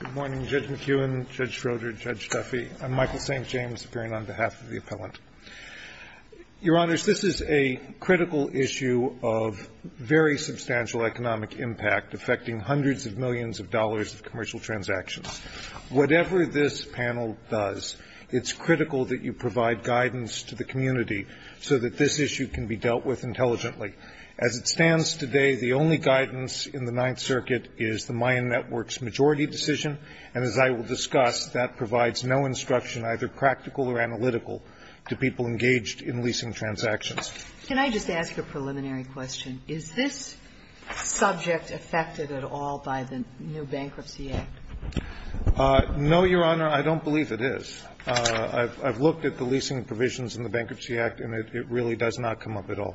Good morning, Judge McEwen, Judge Schroeder, Judge Duffy. I'm Michael St. James, appearing on behalf of the appellant. Your Honors, this is a critical issue of very substantial economic impact affecting hundreds of millions of dollars of commercial transactions. Whatever this panel does, it's critical that you provide guidance to the community so that this issue can be dealt with intelligently. As it stands today, the only guidance in the Ninth Circuit is the Mayan Network's majority decision. And as I will discuss, that provides no instruction, either practical or analytical, to people engaged in leasing transactions. Can I just ask a preliminary question? Is this subject affected at all by the new Bankruptcy Act? No, Your Honor, I don't believe it is. I've looked at the leasing provisions in the Bankruptcy Act, and it really does not come up at all.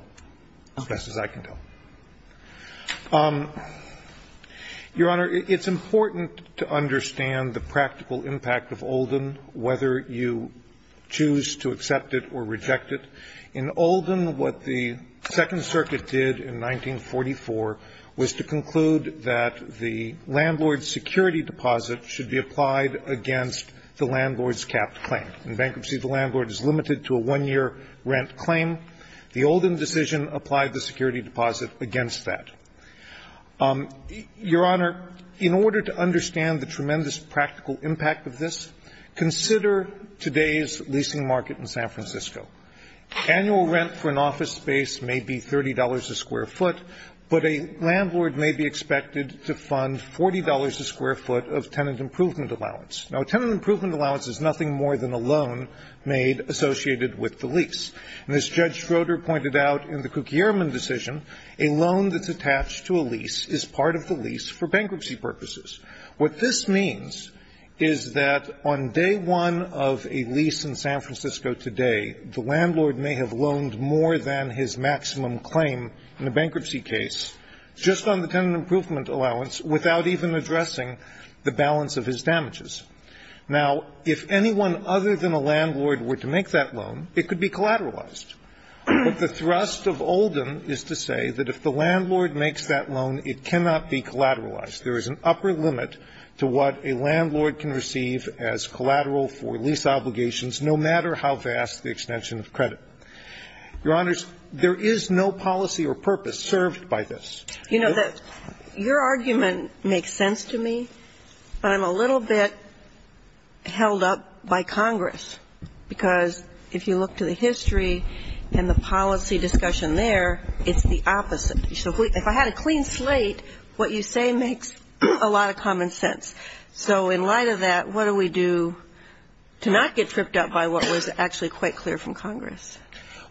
As best as I can tell. Your Honor, it's important to understand the practical impact of Oldham, whether you choose to accept it or reject it. In Oldham, what the Second Circuit did in 1944 was to conclude that the landlord's security deposit should be applied against the landlord's capped claim. In bankruptcy, the landlord is limited to a one-year rent claim. The Oldham decision applied the security deposit against that. Your Honor, in order to understand the tremendous practical impact of this, consider today's leasing market in San Francisco. Annual rent for an office space may be $30 a square foot, but a landlord may be expected to fund $40 a square foot of tenant improvement allowance. Now, a tenant improvement allowance is nothing more than a loan made associated with the lease. And as Judge Schroeder pointed out in the Kukierman decision, a loan that's attached to a lease is part of the lease for bankruptcy purposes. What this means is that on day one of a lease in San Francisco today, the landlord may have loaned more than his maximum claim in a bankruptcy case just on the tenant improvement allowance without even addressing the balance of his damages. Now, if anyone other than a landlord were to make that loan, it could be collateralized. But the thrust of Oldham is to say that if the landlord makes that loan, it cannot be collateralized. There is an upper limit to what a landlord can receive as collateral for lease obligations, no matter how vast the extension of credit. Your Honors, there is no policy or purpose served by this. You know, your argument makes sense to me, but I'm a little bit held up by Congress. Because if you look to the history and the policy discussion there, it's the opposite. So if I had a clean slate, what you say makes a lot of common sense. So in light of that, what do we do to not get tripped up by what was actually quite clear from Congress?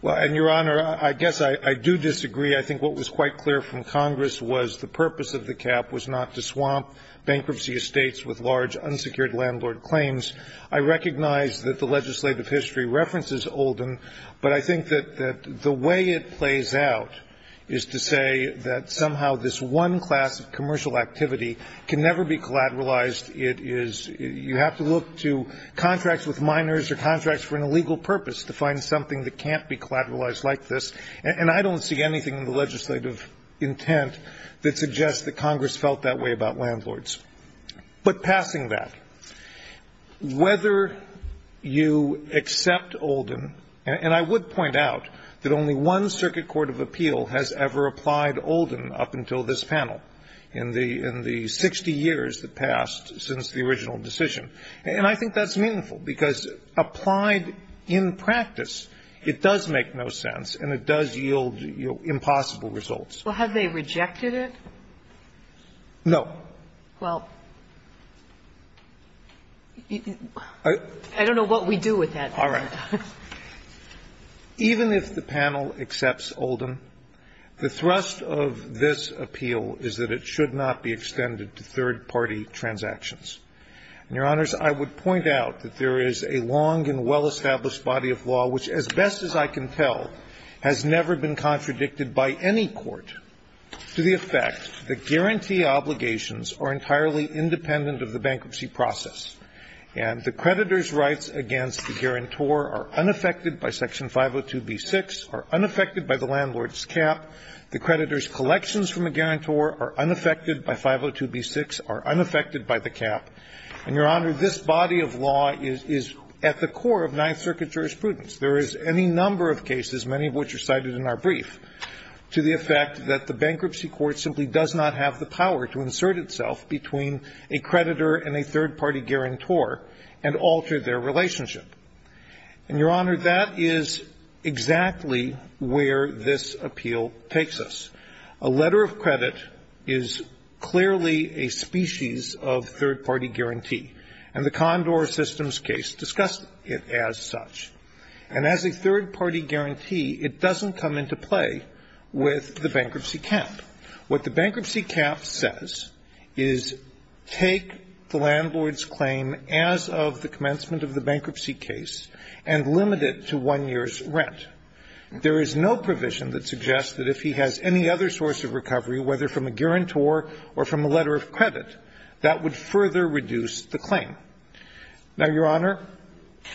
Well, and, Your Honor, I guess I do disagree. I think what was quite clear from Congress was the purpose of the cap was not to swamp bankruptcy estates with large unsecured landlord claims. I recognize that the legislative history references Oldham, but I think that the way it plays out is to say that somehow this one class of commercial activity can never be collateralized. It is you have to look to contracts with minors or contracts for an illegal purpose to find something that can't be collateralized like this. And I don't see anything in the legislative intent that suggests that Congress felt that way about landlords. But passing that, whether you accept Oldham, and I would point out that only one Circuit Court of Appeal has ever applied Oldham up until this panel in the 60 years that passed since the original decision. And I think that's meaningful, because applied in practice, it does make no sense and it does yield, you know, impossible results. Well, have they rejected it? No. Well, I don't know what we do with that. All right. Even if the panel accepts Oldham, the thrust of this appeal is that it should not be extended to third-party transactions. And, Your Honors, I would point out that there is a long and well-established body of law which, as best as I can tell, has never been contradicted by any court to the effect that guarantee obligations are entirely independent of the bankruptcy process, and the creditor's rights against the guarantor are unaffected by Section 502b6, are unaffected by the landlord's cap. The creditor's collections from a guarantor are unaffected by 502b6, are unaffected by the cap. And, Your Honor, this body of law is at the core of Ninth Circuit jurisprudence. There is any number of cases, many of which are cited in our brief, to the effect that the bankruptcy court simply does not have the power to insert itself between a creditor and a third-party guarantor and alter their relationship. And, Your Honor, that is exactly where this appeal takes us. A letter of credit is clearly a species of third-party guarantee, and the Condor systems case discussed it as such. And as a third-party guarantee, it doesn't come into play with the bankruptcy cap. What the bankruptcy cap says is take the landlord's claim as of the commencement of the bankruptcy case and limit it to one year's rent. There is no provision that suggests that if he has any other source of recovery, whether from a guarantor or from a letter of credit, that would further reduce the claim. Now, Your Honor?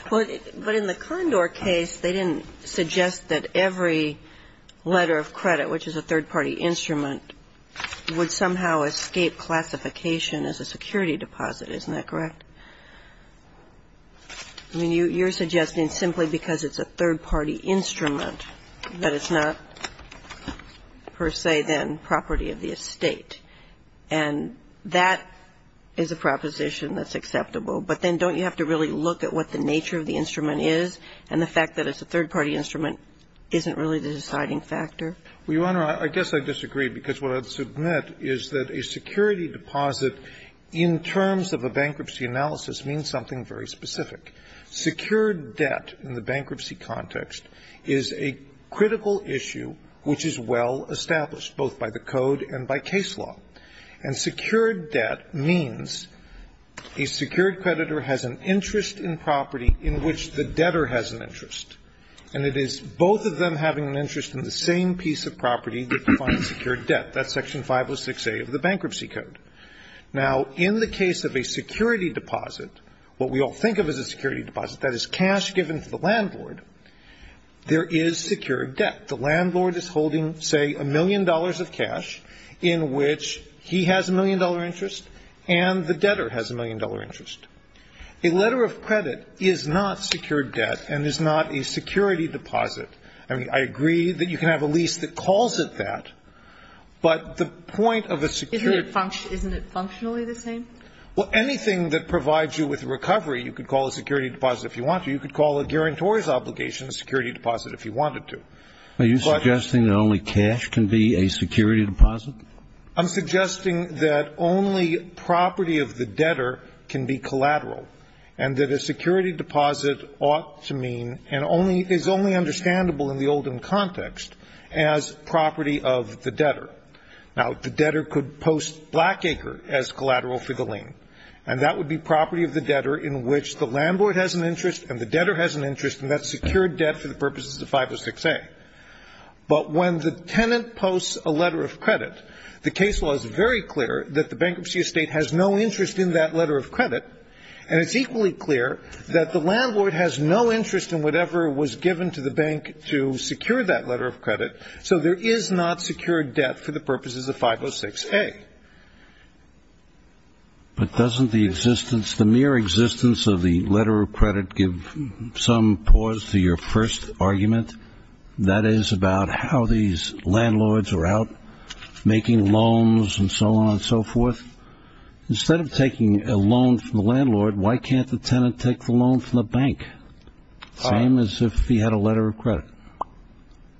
But in the Condor case, they didn't suggest that every letter of credit, which is a third-party instrument, would somehow escape classification as a security deposit. Isn't that correct? I mean, you're suggesting simply because it's a third-party instrument that it's not per se, then, property of the estate. And that is a proposition that's acceptable. But then don't you have to really look at what the nature of the instrument is and the fact that it's a third-party instrument isn't really the deciding factor? Well, Your Honor, I guess I disagree, because what I'd submit is that a security deposit in terms of a bankruptcy analysis means something very specific. Secured debt in the bankruptcy context is a critical issue which is well-established, both by the code and by case law. And secured debt means a secured creditor has an interest in property in which the debtor has an interest, and it is both of them having an interest in the same piece of property that defines secured debt. That's Section 506A of the Bankruptcy Code. Now, in the case of a security deposit, what we all think of as a security deposit, that is cash given to the landlord, there is secured debt. The landlord is holding, say, a million dollars of cash in which he has a million dollar interest and the debtor has a million dollar interest. A letter of credit is not secured debt and is not a security deposit. I mean, I agree that you can have a lease that calls it that, but the point of a security deposit. Isn't it functionally the same? Well, anything that provides you with recovery, you could call a security deposit if you want to. You could call a guarantor's obligation a security deposit if you wanted to. Are you suggesting that only cash can be a security deposit? I'm suggesting that only property of the debtor can be collateral, and that a security deposit ought to mean and is only understandable in the Oldham context as property of the debtor. Now, the debtor could post Blackacre as collateral for the lien, and that would be property of the debtor in which the landlord has an interest and the debtor has an interest, and that's secured debt for the purposes of 506A. But when the tenant posts a letter of credit, the case law is very clear that the bankruptcy estate has no interest in that letter of credit, and it's equally clear that the landlord has no interest in whatever was given to the bank to secure that letter of credit, so there is not secured debt for the purposes of 506A. But doesn't the mere existence of the letter of credit give some pause to your first argument, that is, about how these landlords are out making loans and so on and so forth? Instead of taking a loan from the landlord, why can't the tenant take the loan from the bank? Same as if he had a letter of credit.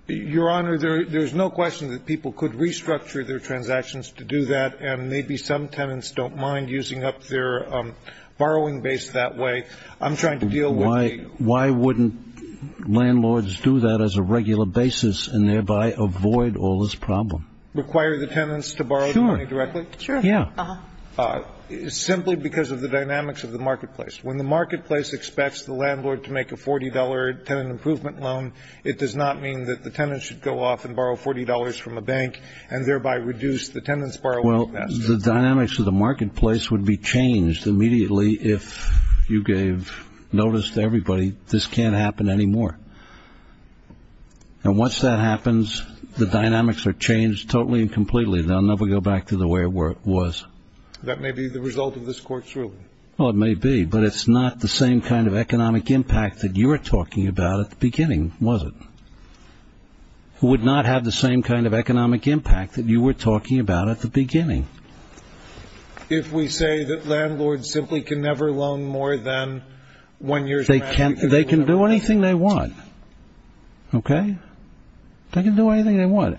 Your Honor, there's no question that people could restructure their transactions to do that, and maybe some tenants don't mind using up their borrowing base that way. I'm trying to deal with the... Why wouldn't landlords do that as a regular basis and thereby avoid all this problem? Require the tenants to borrow the money directly? Sure. Yeah. Simply because of the dynamics of the marketplace. When the marketplace expects the landlord to make a $40 tenant improvement loan, it does not mean that the tenant should go off and borrow $40 from a bank and thereby reduce the tenant's borrowing capacity. Well, the dynamics of the marketplace would be changed immediately if you gave notice to everybody, this can't happen anymore. And once that happens, the dynamics are changed totally and completely. They'll never go back to the way it was. That may be the result of this Court's ruling. Well, it may be, but it's not the same kind of economic impact that you were talking about at the beginning, was it? It would not have the same kind of economic impact that you were talking about at the beginning. If we say that landlords simply can never loan more than one year's... They can do anything they want.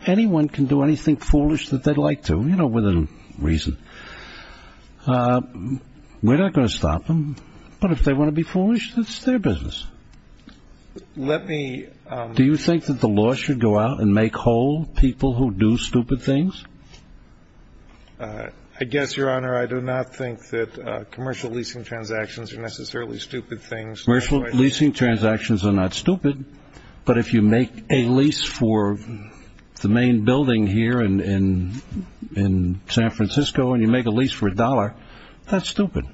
Anyone can do anything foolish that they'd like to, you know, with a reason. We're not going to stop them, but if they want to be foolish, that's their business. Let me... Do you think that the law should go out and make whole people who do stupid things? I guess, Your Honor, I do not think that commercial leasing transactions are necessarily stupid things. Commercial leasing transactions are not stupid, but if you make a lease for the main building here in San Francisco and you make a lease for a dollar, that's stupid.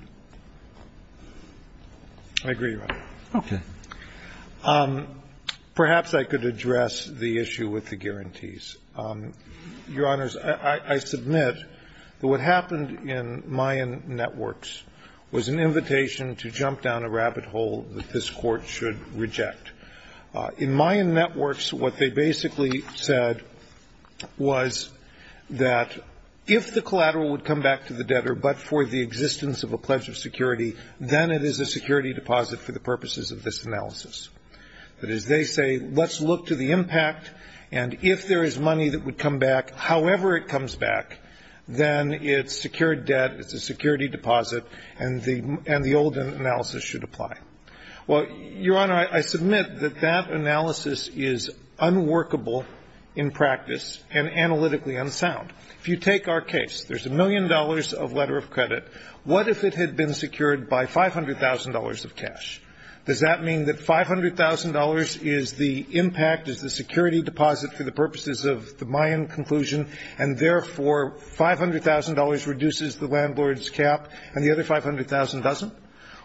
I agree, Your Honor. Okay. Perhaps I could address the issue with the guarantees. Your Honors, I submit that what happened in Mayan networks was an invitation to jump down a rabbit hole that this Court should reject. In Mayan networks, what they basically said was that if the collateral would come back to the debtor but for the existence of a pledge of security, then it is a security deposit for the purposes of this analysis. That is, they say, let's look to the impact, and if there is money that would come back, however it comes back, then it's secured debt, it's a security deposit, and the old analysis should apply. Well, Your Honor, I submit that that analysis is unworkable in practice and analytically unsound. If you take our case, there's a million dollars of letter of credit. What if it had been secured by $500,000 of cash? Does that mean that $500,000 is the impact, is the security deposit for the purposes of the Mayan conclusion, and therefore $500,000 reduces the landlord's cap and the other $500,000 doesn't?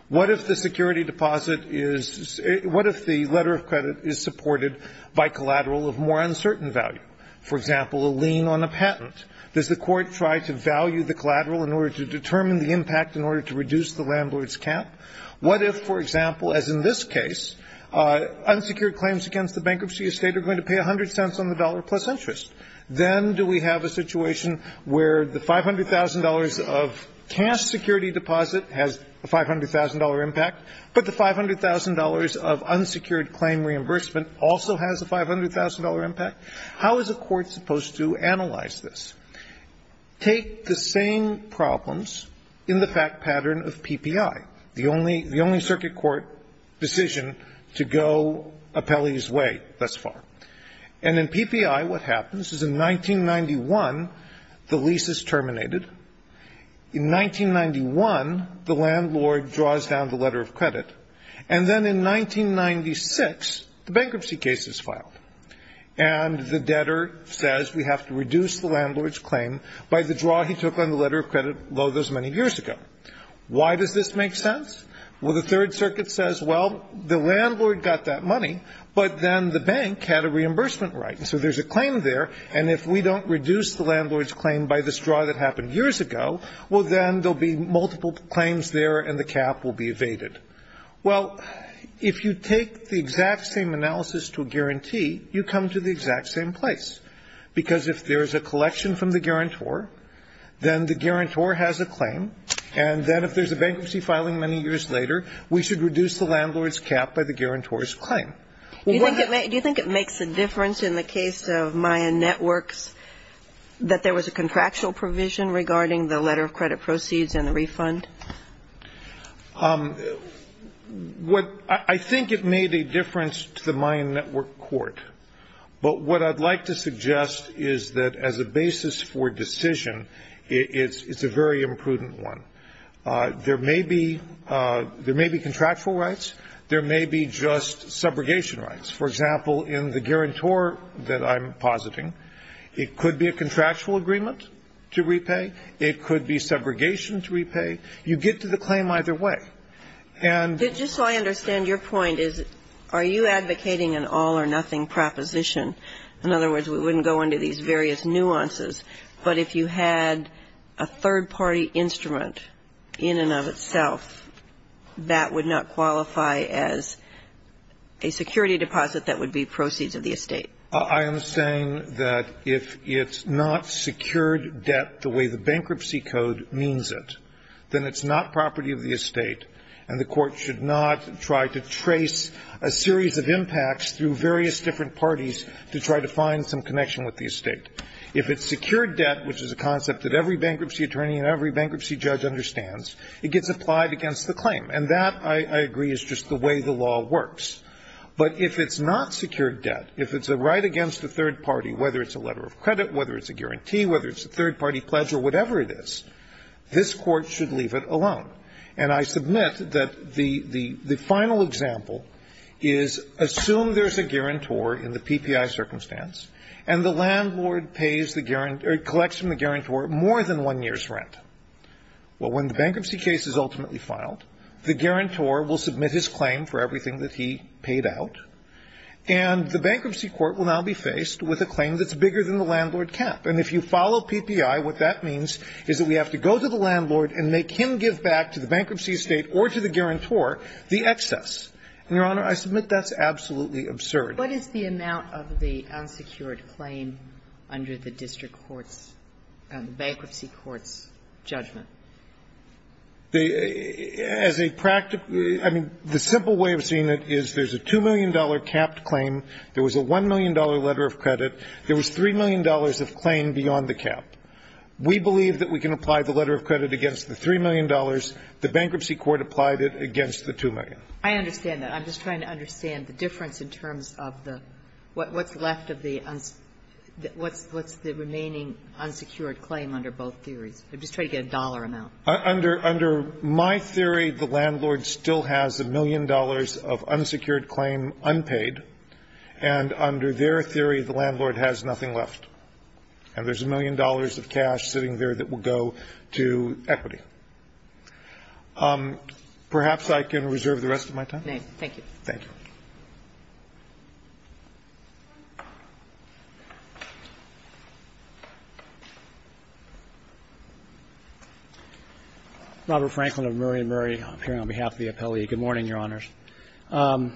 What if the security deposit is – what if the letter of credit is supported by collateral of more uncertain value? For example, a lien on a patent. Does the Court try to value the collateral in order to determine the impact in order to reduce the landlord's cap? What if, for example, as in this case, unsecured claims against the bankruptcy estate are going to pay 100 cents on the dollar plus interest? Then do we have a situation where the $500,000 of cash security deposit has a $500,000 impact, but the $500,000 of unsecured claim reimbursement also has a $500,000 impact? How is a court supposed to analyze this? Take the same problems in the fact pattern of PPI, the only – the only circuit court decision to go Apelli's way thus far. And in PPI, what happens is in 1991, the lease is terminated. In 1991, the landlord draws down the letter of credit. And then in 1996, the bankruptcy case is filed. And the debtor says, we have to reduce the landlord's claim by the draw he took on the letter of credit, although it was many years ago. Why does this make sense? Well, the Third Circuit says, well, the landlord got that money, but then the bank had a reimbursement right. And so there's a claim there, and if we don't reduce the landlord's claim by this many years ago, well, then there'll be multiple claims there, and the cap will be evaded. Well, if you take the exact same analysis to a guarantee, you come to the exact same place, because if there's a collection from the guarantor, then the guarantor has a claim. And then if there's a bankruptcy filing many years later, we should reduce the landlord's cap by the guarantor's claim. Do you think it makes a difference in the case of Mayan Networks that there was a contractual provision regarding the letter of credit proceeds and the refund? I think it made a difference to the Mayan Network court. But what I'd like to suggest is that as a basis for decision, it's a very imprudent one. There may be contractual rights. There may be just subrogation rights. For example, in the guarantor that I'm positing, it could be a contractual agreement to repay. It could be subrogation to repay. You get to the claim either way. And the question is, are you advocating an all-or-nothing proposition? In other words, we wouldn't go into these various nuances, but if you had a third party instrument in and of itself, that would not qualify as a security deposit that would be proceeds of the estate. I am saying that if it's not secured debt the way the bankruptcy code means it, then it's not property of the estate, and the court should not try to trace a series of impacts through various different parties to try to find some connection with the estate. If it's secured debt, which is a concept that every bankruptcy attorney and every bankruptcy judge understands, it gets applied against the claim. And that, I agree, is just the way the law works. But if it's not secured debt, if it's a right against the third party, whether it's a letter of credit, whether it's a guarantee, whether it's a third party pledge, or whatever it is, this court should leave it alone. And I submit that the final example is assume there's a guarantor in the PPI circumstance, and the landlord pays the guarantor or collects from the guarantor more than one year's rent. Well, when the bankruptcy case is ultimately filed, the guarantor will submit his claim to the PPI. He will be paid out. And the bankruptcy court will now be faced with a claim that's bigger than the landlord cap. And if you follow PPI, what that means is that we have to go to the landlord and make him give back to the bankruptcy estate or to the guarantor the excess. And, Your Honor, I submit that's absolutely absurd. Ginsburg. What is the amount of the unsecured claim under the district court's, the bankruptcy court's judgment? The as a practice, I mean, the simple way of seeing it is there's a $2 million capped claim. There was a $1 million letter of credit. There was $3 million of claim beyond the cap. We believe that we can apply the letter of credit against the $3 million. The bankruptcy court applied it against the $2 million. I understand that. I'm just trying to understand the difference in terms of the what's left of the what's the remaining unsecured claim under both theories. I'm just trying to get a dollar amount. Under my theory, the landlord still has a million dollars of unsecured claim unpaid. And under their theory, the landlord has nothing left. And there's a million dollars of cash sitting there that will go to equity. Perhaps I can reserve the rest of my time. Nay. Thank you. Robert Franklin of Murray & Murray appearing on behalf of the appellee. Good morning, Your Honors. To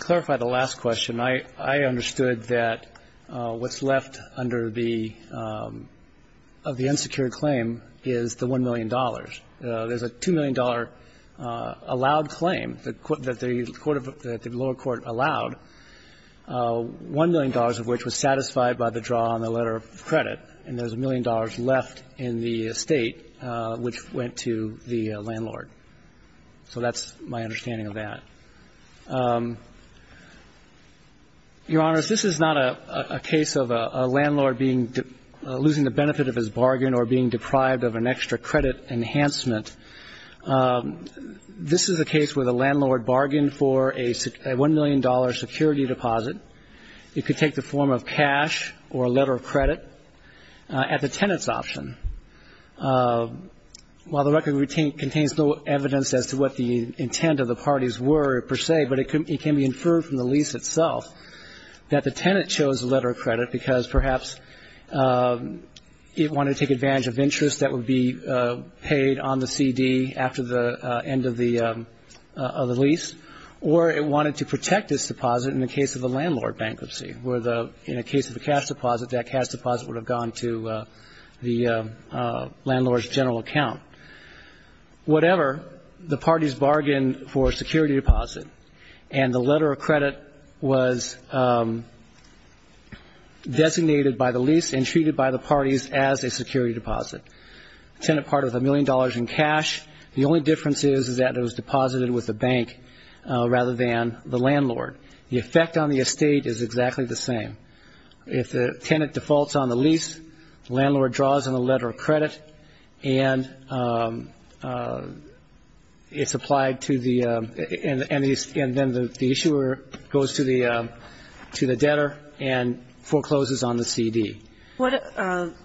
clarify the last question, I understood that what's left under the of the unsecured claim is the $1 million. There's a $2 million allowed claim that the court of the lower court allowed, $1 million of which was satisfied by the draw on the letter of credit. And there's $1 million left in the estate which went to the landlord. So that's my understanding of that. Your Honors, this is not a case of a landlord being losing the benefit of his bargain or being deprived of an extra credit enhancement. This is a case where the landlord bargained for a $1 million security deposit. It could take the form of cash or a letter of credit at the tenant's option. While the record contains no evidence as to what the intent of the parties were per se, but it can be inferred from the lease itself that the tenant chose the letter of credit because perhaps it wanted to take advantage of interest that would be paid on the CD after the end of the lease, or it wanted to protect its deposit in the case of the landlord bankruptcy, where in the case of a cash deposit, that cash deposit would have gone to the landlord's general account. Whatever, the parties bargained for a security deposit, and the letter of credit was designated by the lease and treated by the parties as a security deposit. The tenant parted with $1 million in cash. The only difference is that it was deposited with the bank rather than the landlord. The effect on the estate is exactly the same. If the tenant defaults on the lease, the landlord draws on the letter of credit, and it's applied to the, and then the issuer goes to the debtor and forecloses on the CD. Mr.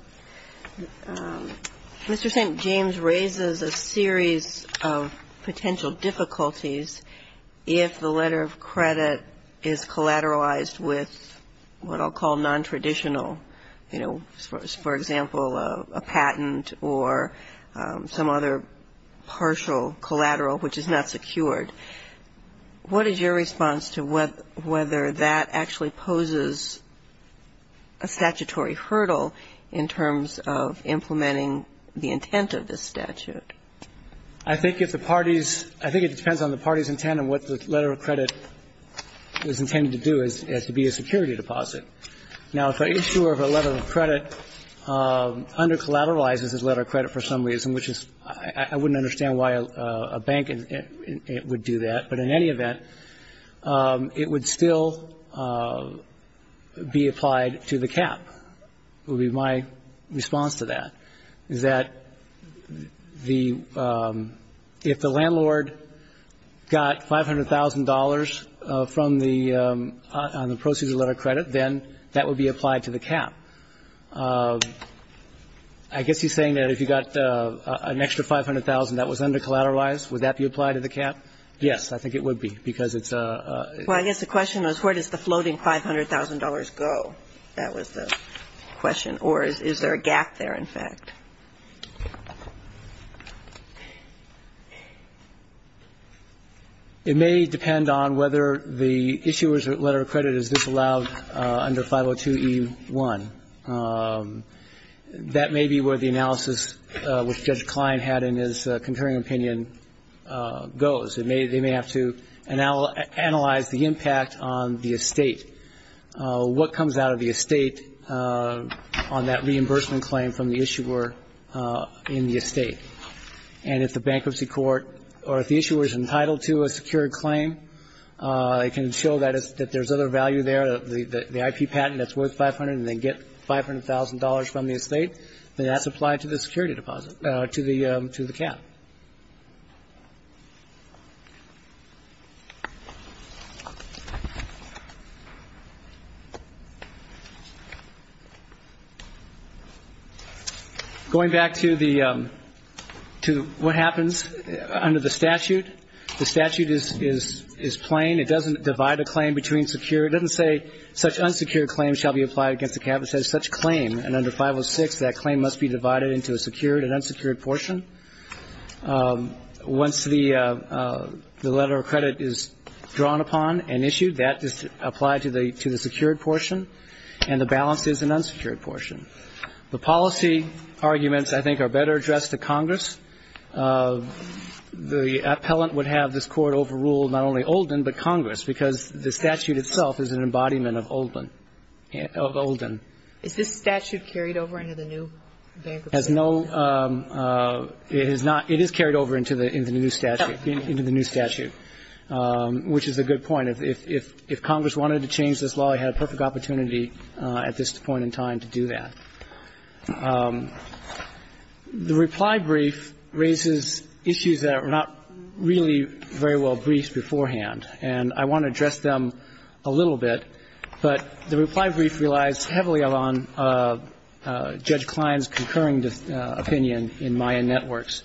St. James raises a series of potential difficulties if the letter of credit is collateralized with what I'll call nontraditional, you know, for example, a patent or some other partial collateral which is not secured. What is your response to whether that actually poses a statutory hurdle in terms of implementing the intent of this statute? I think if the parties, I think it depends on the parties' intent and what the letter of credit is intended to do, as to be a security deposit. Now, if an issuer of a letter of credit undercollateralizes his letter of credit for some reason, which is, I wouldn't understand why a bank would do that, but in any event, it would still be applied to the cap, would be my response to that, is that the, if the landlord got $500,000 from the, on the proceeds of the letter of credit, then that would be applied to the cap. I guess he's saying that if you got an extra $500,000 that was undercollateralized, would that be applied to the cap? Yes, I think it would be, because it's a ---- Well, I guess the question was where does the floating $500,000 go? That was the question. Or is there a gap there, in fact? It may depend on whether the issuer's letter of credit is disallowed under 502E1. That may be where the analysis which Judge Klein had in his concurring opinion goes. They may have to analyze the impact on the estate, what comes out of the estate on that reimbursement claim from the issuer in the estate. And if the bankruptcy court or if the issuer is entitled to a secured claim, it can show that there's other value there, the IP patent that's worth $500,000 and they get $500,000 from the estate, then that's applied to the security deposit, to the Going back to the ---- to what happens under the statute. The statute is plain. It doesn't divide a claim between secure. It doesn't say such unsecured claims shall be applied against the cap. It says such claim. And under 506, that claim must be divided into a secured and unsecured portion. Once the letter of credit is drawn upon and issued, that is applied to the secured portion, and the balance is an unsecured portion. The policy arguments, I think, are better addressed to Congress. The appellant would have this Court overrule not only Olden, but Congress, because the statute itself is an embodiment of Olden. Of Olden. Is this statute carried over into the new bankruptcy? It has no ---- it is not. It is carried over into the new statute, which is a good point. If Congress wanted to change this law, it had a perfect opportunity at this point in time to do that. The reply brief raises issues that were not really very well briefed beforehand, and I want to address them a little bit. But the reply brief relies heavily on Judge Klein's concurring opinion in Mayan Networks.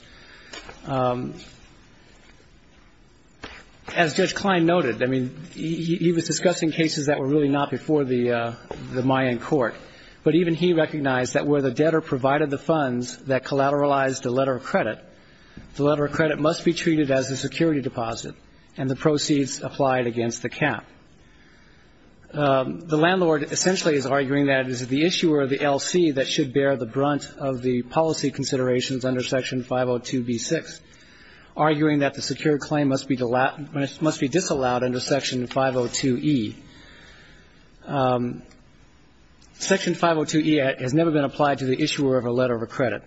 As Judge Klein noted, I mean, he was discussing cases that were really not before the Mayan court, but even he recognized that where the debtor provided the funds that collateralized the letter of credit, the letter of credit must be treated as a security The landlord essentially is arguing that it is the issuer of the LC that should bear the brunt of the policy considerations under Section 502B6, arguing that the secure claim must be disallowed under Section 502E. Section 502E has never been applied to the issuer of a letter of credit.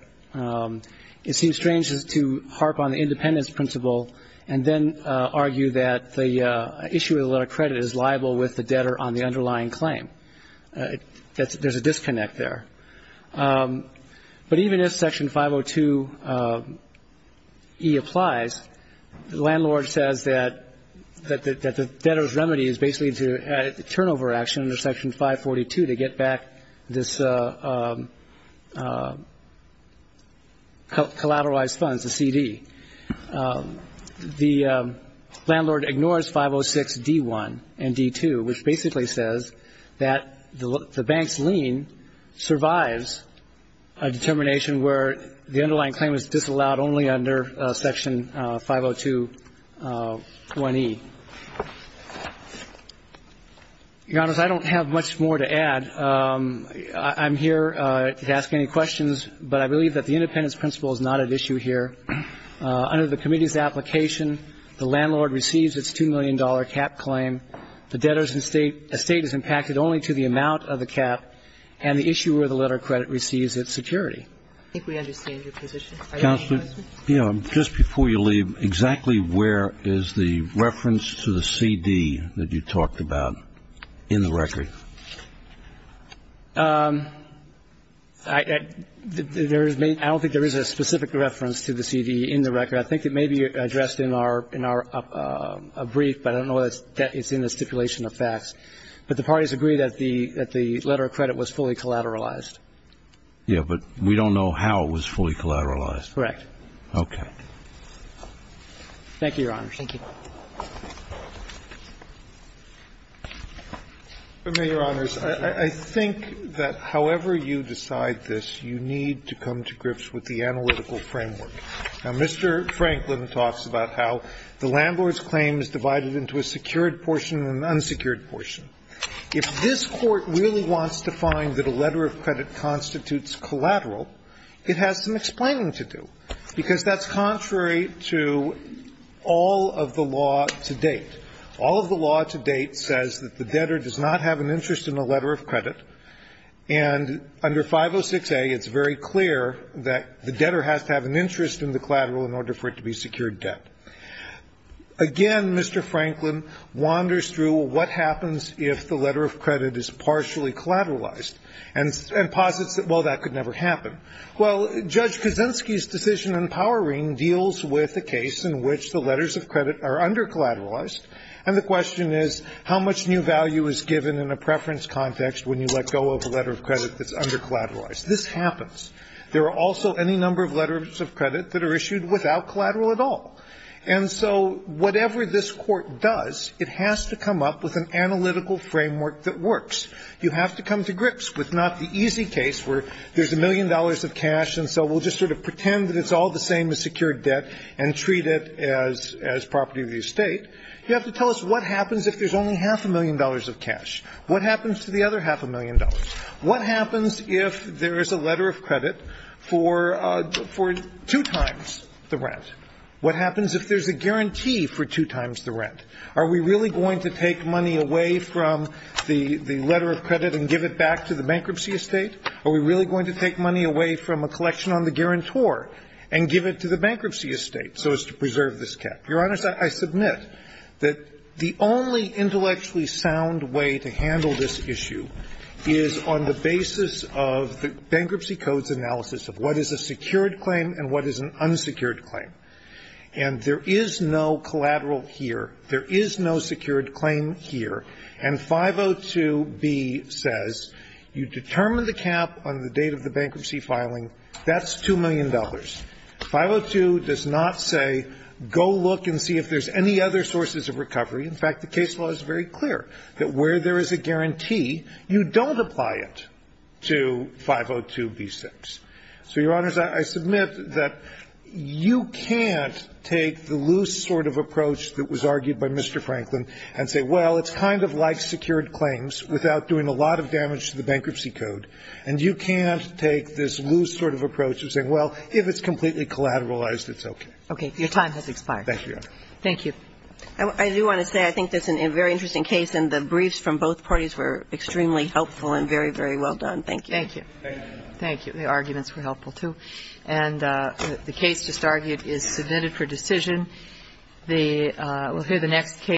It seems strange to harp on the independence principle and then argue that the issuer of the letter of credit is liable with the debtor on the underlying claim. There's a disconnect there. But even if Section 502E applies, the landlord says that the debtor's remedy is basically to add a turnover action under Section 542 to get back this collateralized funds, the CD. The landlord ignores 506D1 and D2, which basically says that the bank's lien survives a determination where the underlying claim is disallowed only under Section 502E. Your Honor, I don't have much more to add. I'm here to ask any questions, but I believe that the independence principle is not at issue here. Under the committee's application, the landlord receives its $2 million cap claim, the debtor's estate is impacted only to the amount of the cap, and the issuer of the letter of credit receives its security. I think we understand your position. Are there any questions? Just before you leave, exactly where is the reference to the CD that you talked about in the record? I don't think there is a specific reference to the CD in the record. I think it may be addressed in our brief, but I don't know that it's in the stipulation of facts. But the parties agree that the letter of credit was fully collateralized. Yes, but we don't know how it was fully collateralized. Correct. Okay. Thank you, Your Honor. Thank you. I think that however you decide this, you need to come to grips with the analytical framework. Now, Mr. Franklin talks about how the landlord's claim is divided into a secured portion and an unsecured portion. If this Court really wants to find that a letter of credit constitutes collateral, it has some explaining to do. Because that's contrary to all of the law to date. All of the law to date says that the debtor does not have an interest in a letter of credit, and under 506A, it's very clear that the debtor has to have an interest in the collateral in order for it to be secured debt. Again, Mr. Franklin wanders through what happens if the letter of credit is partially collateralized and posits that, well, that could never happen. Well, Judge Kaczynski's decision in Powering deals with a case in which the letters of credit are undercollateralized, and the question is how much new value is given in a preference context when you let go of a letter of credit that's undercollateralized. This happens. There are also any number of letters of credit that are issued without collateral at all. And so whatever this Court does, it has to come up with an analytical framework that works. You have to come to grips with not the easy case where there's a million dollars of cash and so we'll just sort of pretend that it's all the same as secured debt and treat it as property of the estate. You have to tell us what happens if there's only half a million dollars of cash. What happens to the other half a million dollars? What happens if there is a letter of credit for two times the rent? What happens if there's a guarantee for two times the rent? Are we really going to take money away from the letter of credit and give it back to the bankruptcy estate? Are we really going to take money away from a collection on the guarantor and give it to the bankruptcy estate so as to preserve this cap? Your Honors, I submit that the only intellectually sound way to handle this issue is on the basis of the Bankruptcy Codes analysis of what is a secured claim and what is an unsecured claim. And there is no collateral here. There is no secured claim here. And 502B says you determine the cap on the date of the bankruptcy filing. That's $2 million. 502 does not say go look and see if there's any other sources of recovery. In fact, the case law is very clear that where there is a guarantee, you don't apply it to 502B6. So, Your Honors, I submit that you can't take the loose sort of approach that was argued by Mr. Franklin and say, well, it's kind of like secured claims without doing a lot of damage to the Bankruptcy Code. And you can't take this loose sort of approach and say, well, if it's completely collateralized, it's okay. Okay. Your time has expired. Thank you, Your Honor. Thank you. I do want to say I think that's a very interesting case, and the briefs from both parties were extremely helpful and very, very well done. Thank you. Thank you. Thank you. The arguments were helpful, too. And the case just argued is submitted for decision. We'll hear the next case.